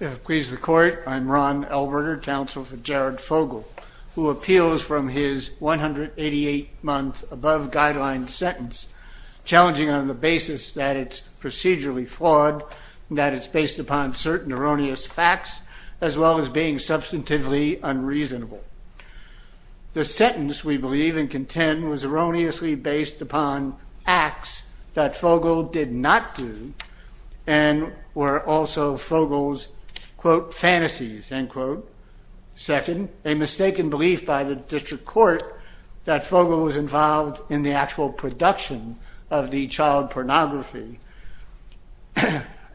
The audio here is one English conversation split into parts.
I'm Ron Elberger, counsel for Jared Fogle, who appeals from his 188-month above-guideline sentence, challenging on the basis that it's procedurally flawed, that it's based upon certain erroneous facts, as well as being substantively unreasonable. The sentence, we believe and contend, was erroneously based upon acts that Fogle did not do and were also Fogle's, quote, fantasies, end quote. Second, a mistaken belief by the district court that Fogle was involved in the actual production of the child pornography,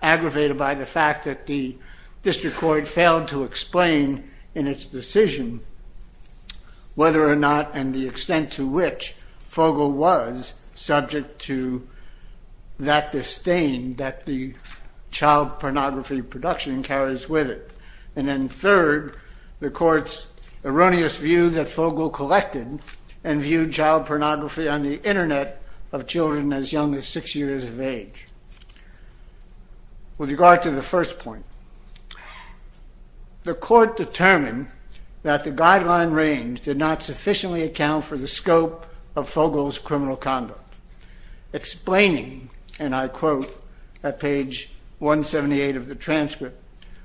aggravated by the fact that the district court failed to explain in its decision whether or not and the extent to which Fogle was subject to that disdain that the child pornography production carries with it. And then third, the court's erroneous view that Fogle collected and viewed child pornography on the internet of children as young as six years of age. With regard to the first point, the court determined that the guideline range did not Explaining, and I quote at page 178 of the transcript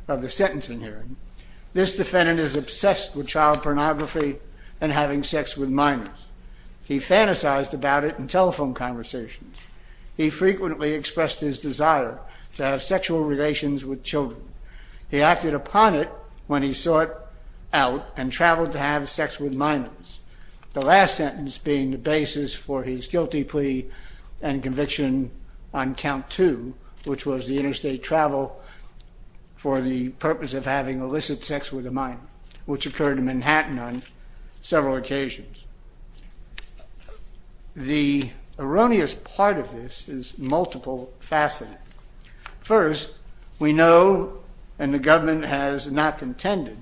of the sentencing hearing, this defendant is obsessed with child pornography and having sex with minors. He fantasized about it in telephone conversations. He frequently expressed his desire to have sexual relations with children. He acted upon it when he sought out and traveled to have sex with minors, the last sentence being the basis for his guilty plea and conviction on count two, which was the interstate travel for the purpose of having illicit sex with a minor, which occurred in Manhattan on several occasions. The erroneous part of this is multiple facets. First, we know, and the government has not contended,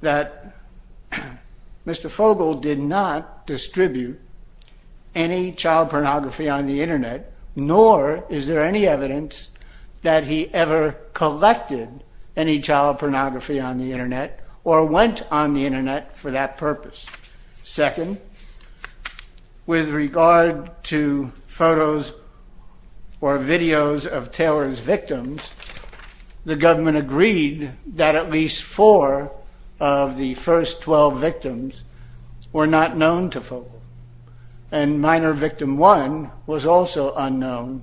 that Mr. Fogle did not distribute any child pornography on the internet, nor is there any evidence that he ever collected any child pornography on the internet or went on the internet for that purpose. Second, with regard to photos or videos of Taylor's victims, the government agreed that at least four of the first 12 victims were not known to Fogle, and minor victim one was also unknown,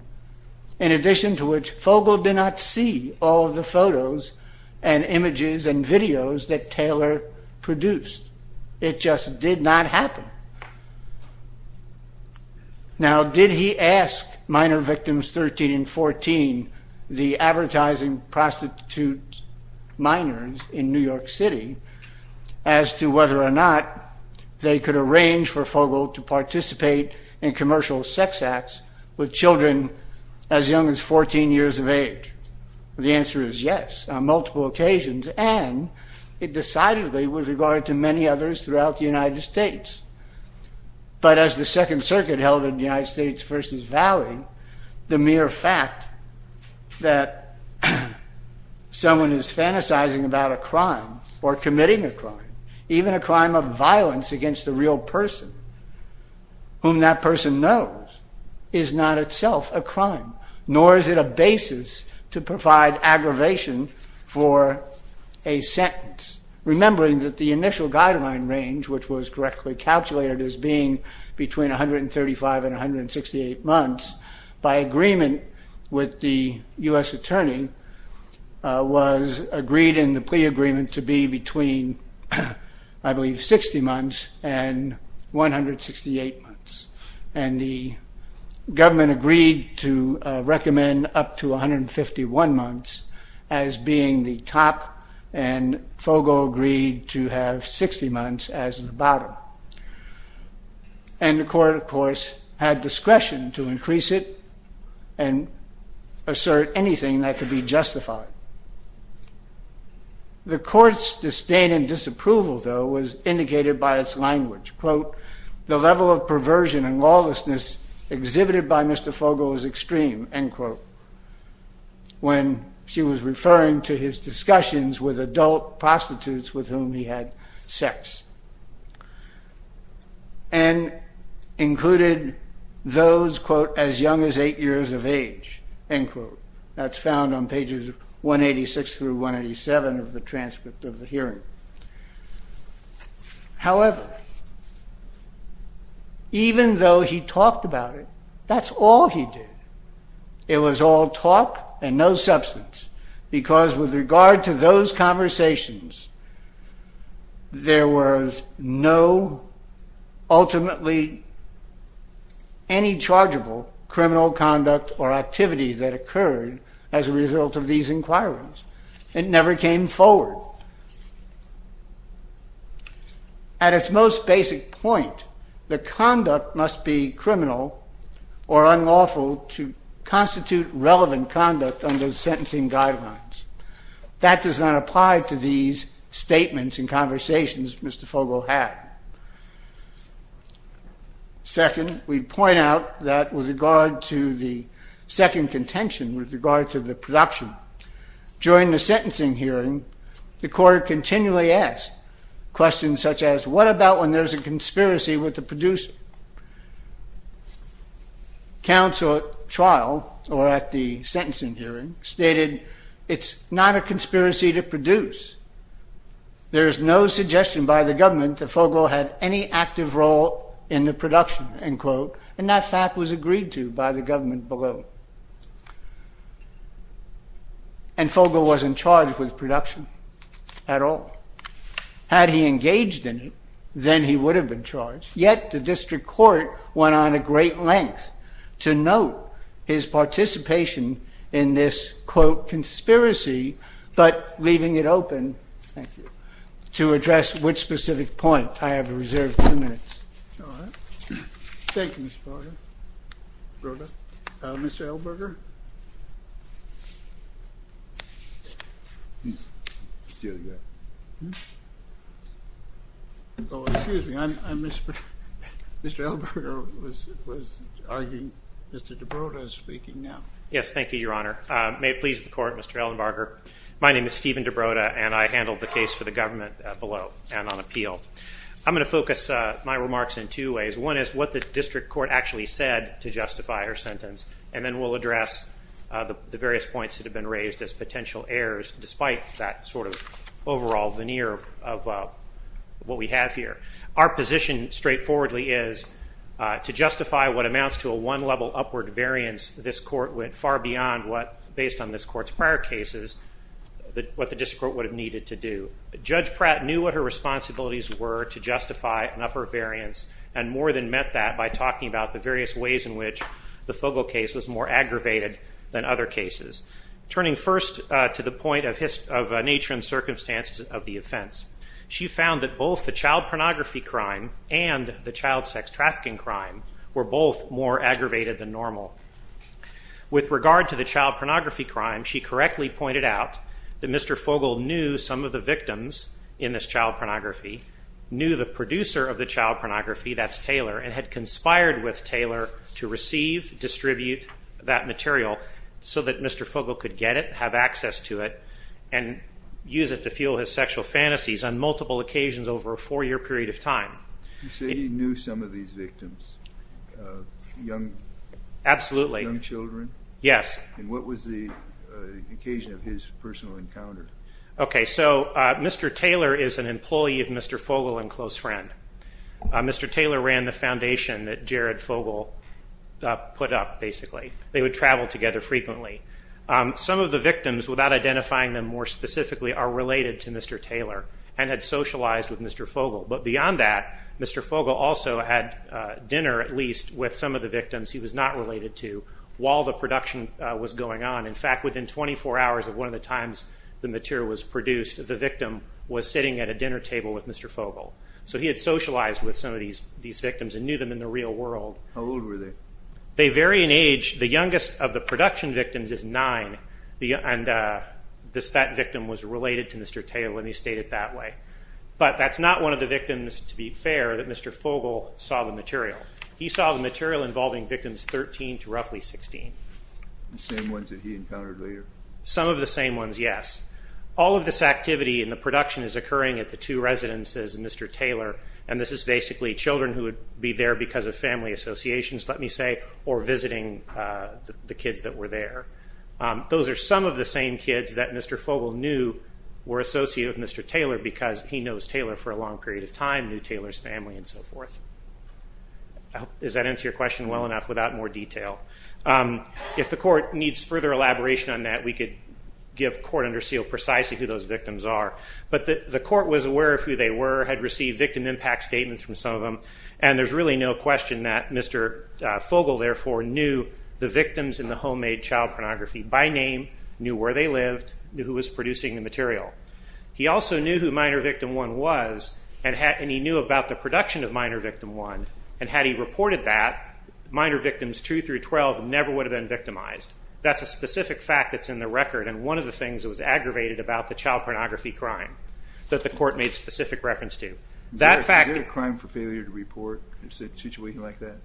in addition to which Fogle did not see all of the photos and images and videos that Taylor produced. It just did not happen. Now did he ask minor victims 13 and 14, the advertising prostitute minors in New York City, as to whether or not they could arrange for Fogle to participate in commercial sex acts with children as young as 14 years of age? The answer is yes, on multiple occasions, and it decidedly was regarded to many others throughout the United States. But as the Second Circuit held in the United States v. Valley, the mere fact that someone is fantasizing about a crime or committing a crime, even a crime of violence against a real person, whom that person knows, is not itself a crime, nor is it a basis to provide aggravation for a sentence, remembering that the initial guideline range, which was correctly calculated as being between 135 and 168 months, by agreement with the U.S. Attorney, was agreed in the plea agreement to be between, I believe, 60 months and 168 months. And the government agreed to recommend up to 151 months as being the top, and Fogle agreed to have 60 months as the bottom. And the court, of course, had discretion to increase it and assert anything that could be justified. The court's disdain and disapproval, though, was indicated by its language, quote, the level of perversion and lawlessness exhibited by Mr. Fogle was extreme, end quote, when she was referring to his discussions with adult prostitutes with whom he had sex, and pages 186 through 187 of the transcript of the hearing. However, even though he talked about it, that's all he did. It was all talk and no substance, because with regard to those conversations, there was no evidence that Mr. Fogle was a criminal or unlawful in any of those sentencing guidelines. That does not apply to these statements and conversations Mr. Fogle had. Second, we point out that with regard to the second contention, with regard to the production, during the sentencing hearing, the court continually asked questions such as, what about when there's a conspiracy with the producer? Counsel at trial, or at the sentencing hearing, stated, it's not a conspiracy to produce. There is no suggestion by the government that Fogle had any active role in the production, end quote. And that fact was agreed to by the government below. And Fogle wasn't charged with production at all. Had he engaged in it, then he would have been charged, yet the district court went on a Thank you. To address which specific point, I have reserved two minutes. Thank you, Mr. Elenbarger. Mr. Ellenbarger? Still here. Oh, excuse me. Mr. Ellenbarger was arguing. Mr. DeBroda is speaking now. Yes, thank you, Your Honor. May it please the court, Mr. Ellenbarger. My name is Stephen DeBroda, and I handled the case for the government below and on appeal. I'm going to focus my remarks in two ways. One is what the district court actually said to justify her sentence. And then we'll address the various points that have been raised as potential errors, despite that sort of overall veneer of what we have here. Our position, straightforwardly, is to justify what amounts to a one-level upward variance this court went far beyond what, based on this court's prior cases, what the district court would have needed to do. Judge Pratt knew what her responsibilities were to justify an upper variance, and more than met that by talking about the various ways in which the Fogle case was more aggravated than other cases. Turning first to the point of nature and circumstances of the offense, she found that both the child pornography crime and the child sex trafficking crime were both more aggravated than normal. With regard to the child pornography crime, she correctly pointed out that Mr. Fogle knew some of the victims in this child pornography, knew the producer of the child pornography, that's Taylor, and had conspired with Taylor to receive, distribute that material so that Mr. Fogle could get it, have access to it, and use it to fuel his sexual fantasies on multiple occasions over a four-year period of time. You say he knew some of these victims, young children? Yes. And what was the occasion of his personal encounter? Okay, so Mr. Taylor is an employee of Mr. Fogle and close friend. Mr. Taylor ran the foundation that Jared Fogle put up, basically. They would travel together frequently. Some of the victims, without identifying them more specifically, are related to Mr. Taylor and had socialized with Mr. Fogle. But beyond that, Mr. Fogle also had dinner, at least, with some of the victims he was not related to while the production was going on. In fact, within 24 hours of one of the times the material was produced, the victim was sitting at a dinner table with Mr. Fogle. So he had socialized with some of these victims and knew them in the real world. How old were they? They vary in age. The youngest of the production victims is nine, and that victim was related to Mr. Taylor when he stayed at that way. But that's not one of the victims, to be fair, that Mr. Fogle saw the material. He saw the material involving victims 13 to roughly 16. The same ones that he encountered later? Some of the same ones, yes. All of this activity in the production is occurring at the two residences of Mr. Taylor. And this is basically children who would be there because of family associations, let me say, or visiting the kids that were there. Those are some of the same kids that Mr. Fogle knew were associated with Mr. He knows Taylor for a long period of time, knew Taylor's family, and so forth. Does that answer your question well enough without more detail? If the court needs further elaboration on that, we could give court under seal precisely who those victims are. But the court was aware of who they were, had received victim impact statements from some of them. And there's really no question that Mr. Fogle, therefore, knew the victims in the homemade child pornography by name, knew where they lived, knew who was producing the material. He also knew who minor victim one was, and he knew about the production of minor victim one, and had he reported that, minor victims two through 12 never would have been victimized. That's a specific fact that's in the record, and one of the things that was aggravated about the child pornography crime that the court made specific reference to. Is there a crime for failure to report in a situation like that?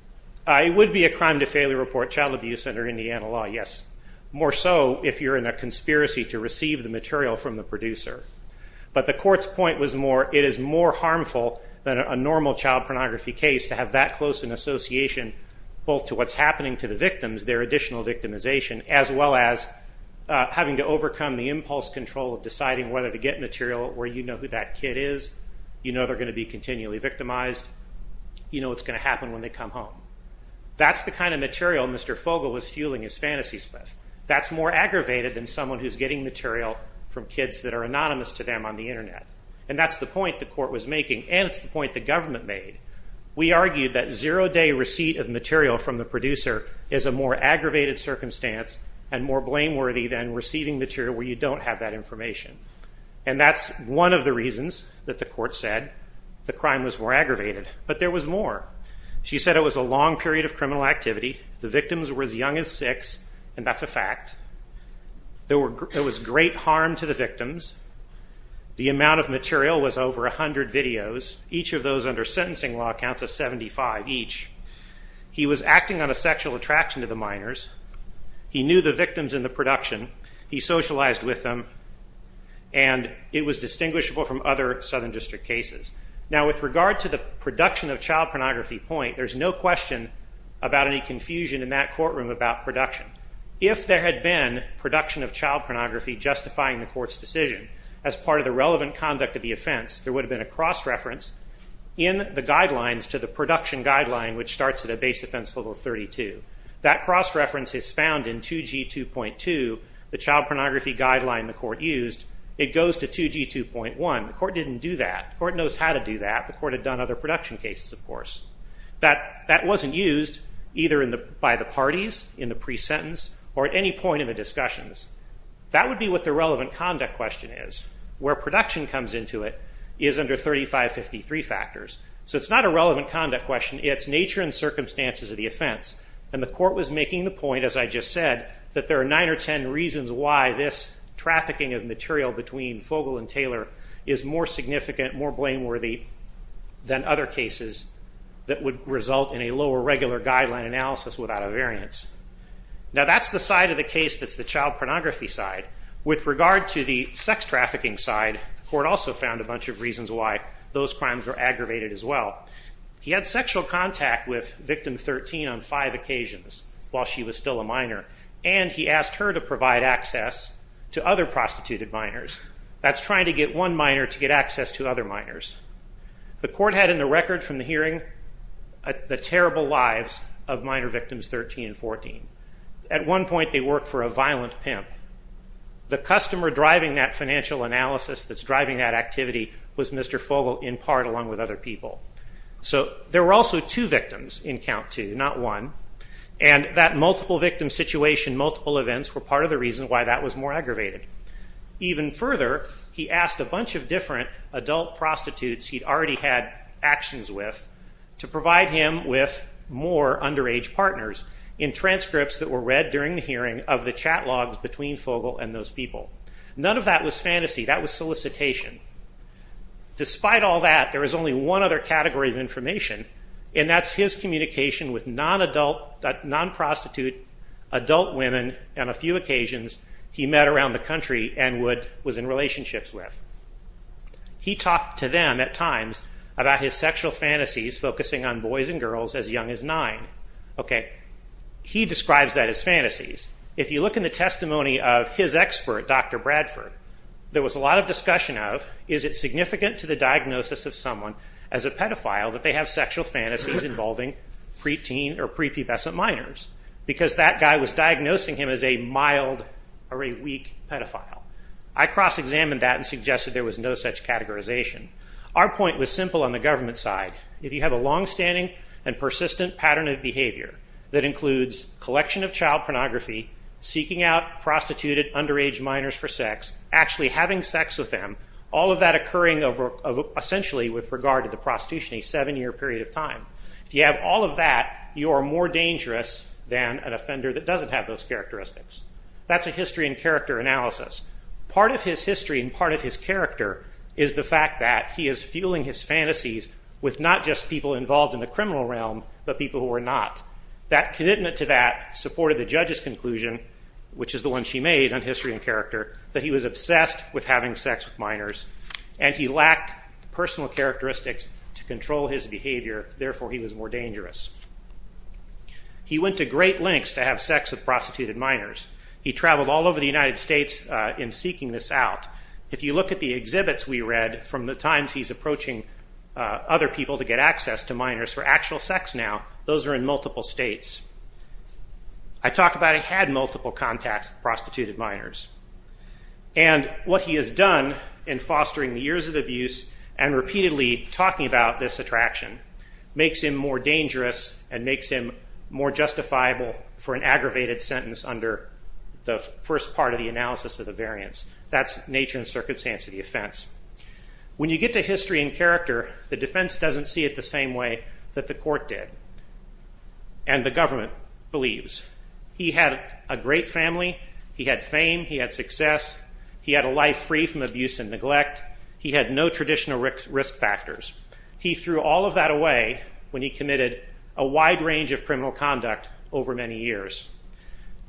It would be a crime to failure report, child abuse under Indiana law, yes. More so if you're in a conspiracy to receive the material from the producer. But the court's point was more, it is more harmful than a normal child pornography case to have that close an association, both to what's happening to the victims, their additional victimization, as well as having to overcome the impulse control of deciding whether to get material where you know who that kid is, you know they're going to be continually victimized, you know what's going to happen when they come home. That's the kind of material Mr. Fogle was fueling his fantasies with. That's more aggravated than someone who's getting material from kids that are anonymous to them on the internet. And that's the point the court was making, and it's the point the government made. We argued that zero-day receipt of material from the producer is a more aggravated circumstance and more blameworthy than receiving material where you don't have that information. And that's one of the reasons that the court said the crime was more aggravated, but there was more. She said it was a long period of criminal activity, the victims were as young as six, and that's a fact, there was great harm to the victims, the amount of material was over 100 videos, each of those under sentencing law counts as 75 each. He was acting on a sexual attraction to the minors, he knew the victims in the production, he socialized with them, and it was distinguishable from other Southern District cases. Now with regard to the production of child pornography point, there's no question about any confusion in that courtroom about production. If there had been production of child pornography justifying the court's decision as part of the relevant conduct of the offense, there would have been a cross-reference in the guidelines to the production guideline which starts at a base offense level 32. That cross-reference is found in 2G2.2, the child pornography guideline the court used. It goes to 2G2.1, the court didn't do that. The court knows how to do that, the court had done other production cases, of course. That wasn't used either by the parties, in the pre-sentence, or at any point in the discussions. That would be what the relevant conduct question is. Where production comes into it is under 3553 factors. So it's not a relevant conduct question, it's nature and circumstances of the offense. And the court was making the point, as I just said, that there are 9 or 10 reasons why this trafficking of material between Fogle and Taylor is more significant, more blameworthy than other cases that would result in a lower regular guideline analysis without a variance. Now that's the side of the case that's the child pornography side. With regard to the sex trafficking side, the court also found a bunch of reasons why those crimes were aggravated as well. He had sexual contact with victim 13 on 5 occasions while she was still a minor, and he asked her to provide access to other prostituted minors. That's trying to get one minor to get access to other minors. The court had in the record from the hearing the terrible lives of minor victims 13 and 14. At one point they worked for a violent pimp. The customer driving that financial analysis that's driving that activity was Mr. Fogle, in part, along with other people. So there were also two victims in count two, not one. And that multiple victim situation, multiple events, were part of the reason why that was more aggravated. Even further, he asked a bunch of different adult prostitutes he'd already had actions with to provide him with more underage partners in transcripts that were read during the hearing of the chat logs between Fogle and those people. None of that was fantasy, that was solicitation. Despite all that, there was only one other category of information, and that's his communication with non-adult, non-prostitute adult women on a few occasions he met around the country and was in relationships with. He talked to them at times about his sexual fantasies focusing on boys and girls as young as nine. He describes that as fantasies. If you look in the testimony of his expert, Dr. Bradford, there was a lot of discussion of, is it significant to the diagnosis of someone as a pedophile that they have sexual fantasies involving preteen or prepubescent minors? Because that guy was diagnosing him as a mild or a weak pedophile. I cross-examined that and suggested there was no such categorization. Our point was simple on the government side. If you have a long-standing and persistent pattern of behavior that includes collection of child pornography, seeking out prostituted underage minors for sex, actually having sex with them, all of that occurring essentially with regard to the prostitution, a seven-year period of time. If you have all of that, you are more dangerous than an offender that doesn't have those characteristics. That's a history and character analysis. Part of his history and part of his character is the fact that he is fueling his fantasies with not just people involved in the criminal realm, but people who are not. That commitment to that supported the judge's conclusion, which is the one she made on history and character, that he was obsessed with having sex with minors and he lacked personal characteristics to control his behavior, therefore he was more dangerous. He went to great lengths to have sex with prostituted minors. He traveled all over the United States in seeking this out. If you look at the exhibits we read from the times he's approaching other people to get access to minors for actual sex now, those are in multiple states. I talked about he had multiple contacts with prostituted minors. And what he has done in fostering years of abuse and repeatedly talking about this attraction, makes him more dangerous and makes him more justifiable for an aggravated sentence under the first part of the analysis of the variance. That's nature and circumstance of the offense. When you get to history and character, the defense doesn't see it the same way that the court did. And the government believes. He had a great family. He had fame. He had success. He had a life free from abuse and neglect. He had no traditional risk factors. He threw all of that away when he committed a wide range of criminal conduct over many years.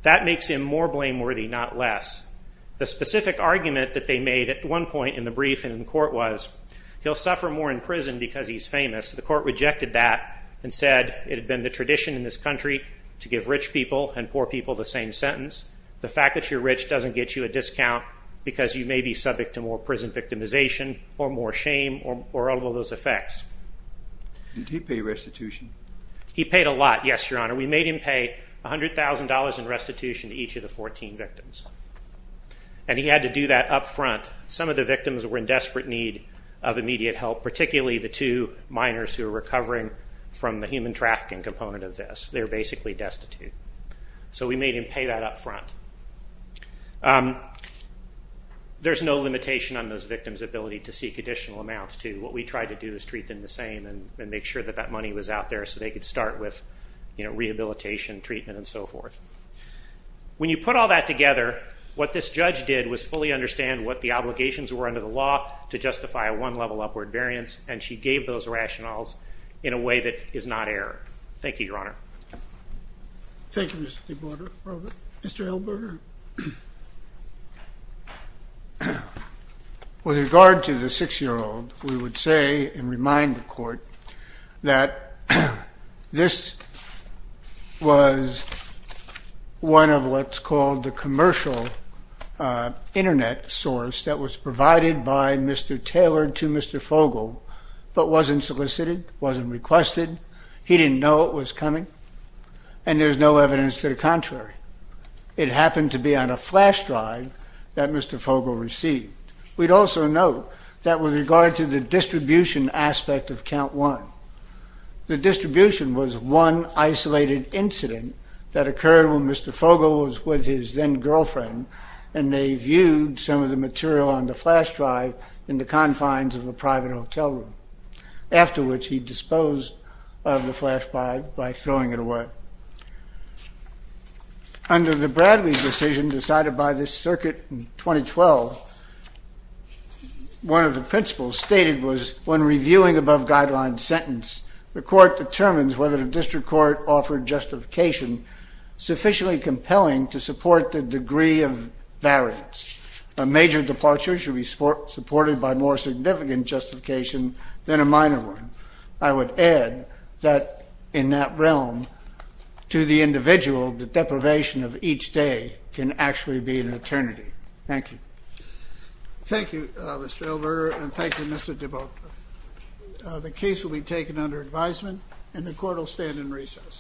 That makes him more blameworthy, not less. The specific argument that they made at one point in the brief and in court was, he'll suffer more in prison because he's famous. The court rejected that and said, it had been the tradition in this country to give rich people and poor people the same sentence. The fact that you're rich doesn't get you a discount because you may be subject to more prison victimization or more shame or all of those effects. Did he pay restitution? He paid a lot, yes, your honor. We made him pay $100,000 in restitution to each of the 14 victims. And he had to do that up front. Some of the victims were in desperate need of immediate help, particularly the two minors who were recovering from the human trafficking component of this. They were basically destitute. So we made him pay that up front. There's no limitation on those victims' ability to seek additional amounts, too. What we tried to do is treat them the same and make sure that that money was out there so they could start with rehabilitation, treatment, and so forth. When you put all that together, what this judge did was fully understand what the obligations were under the law to justify a one-level upward variance. And she gave those rationales in a way that is not error. Thank you, your honor. Thank you, Mr. DeBorda. Mr. Hilberger? With regard to the six-year-old, we would say and remind the court that this was one of what's called the commercial internet source that was provided by Mr. Taylor to Mr. Fogle but wasn't solicited, wasn't requested. He didn't know it was coming. And there's no evidence to the contrary. It happened to be on a flash drive that Mr. Fogle received. We'd also note that with regard to the distribution aspect of count one, the distribution was one isolated incident that occurred when Mr. Fogle was with his then-girlfriend. And they viewed some of the material on the flash drive in the confines of a private hotel room, after which he disposed of the flash drive by throwing it away. Under the Bradley decision decided by this circuit in 2012, one of the principles stated was, when reviewing above-guideline sentence, the court determines whether the district court offered justification sufficiently compelling to support the degree of variance. A major departure should be supported by more significant justification than a minor one. I would add that in that realm, to the individual, the deprivation of each day can actually be an eternity. Thank you. Thank you, Mr. Ilver, and thank you, Mr. DeBolt. The case will be taken under advisement, and the court will stand in recess.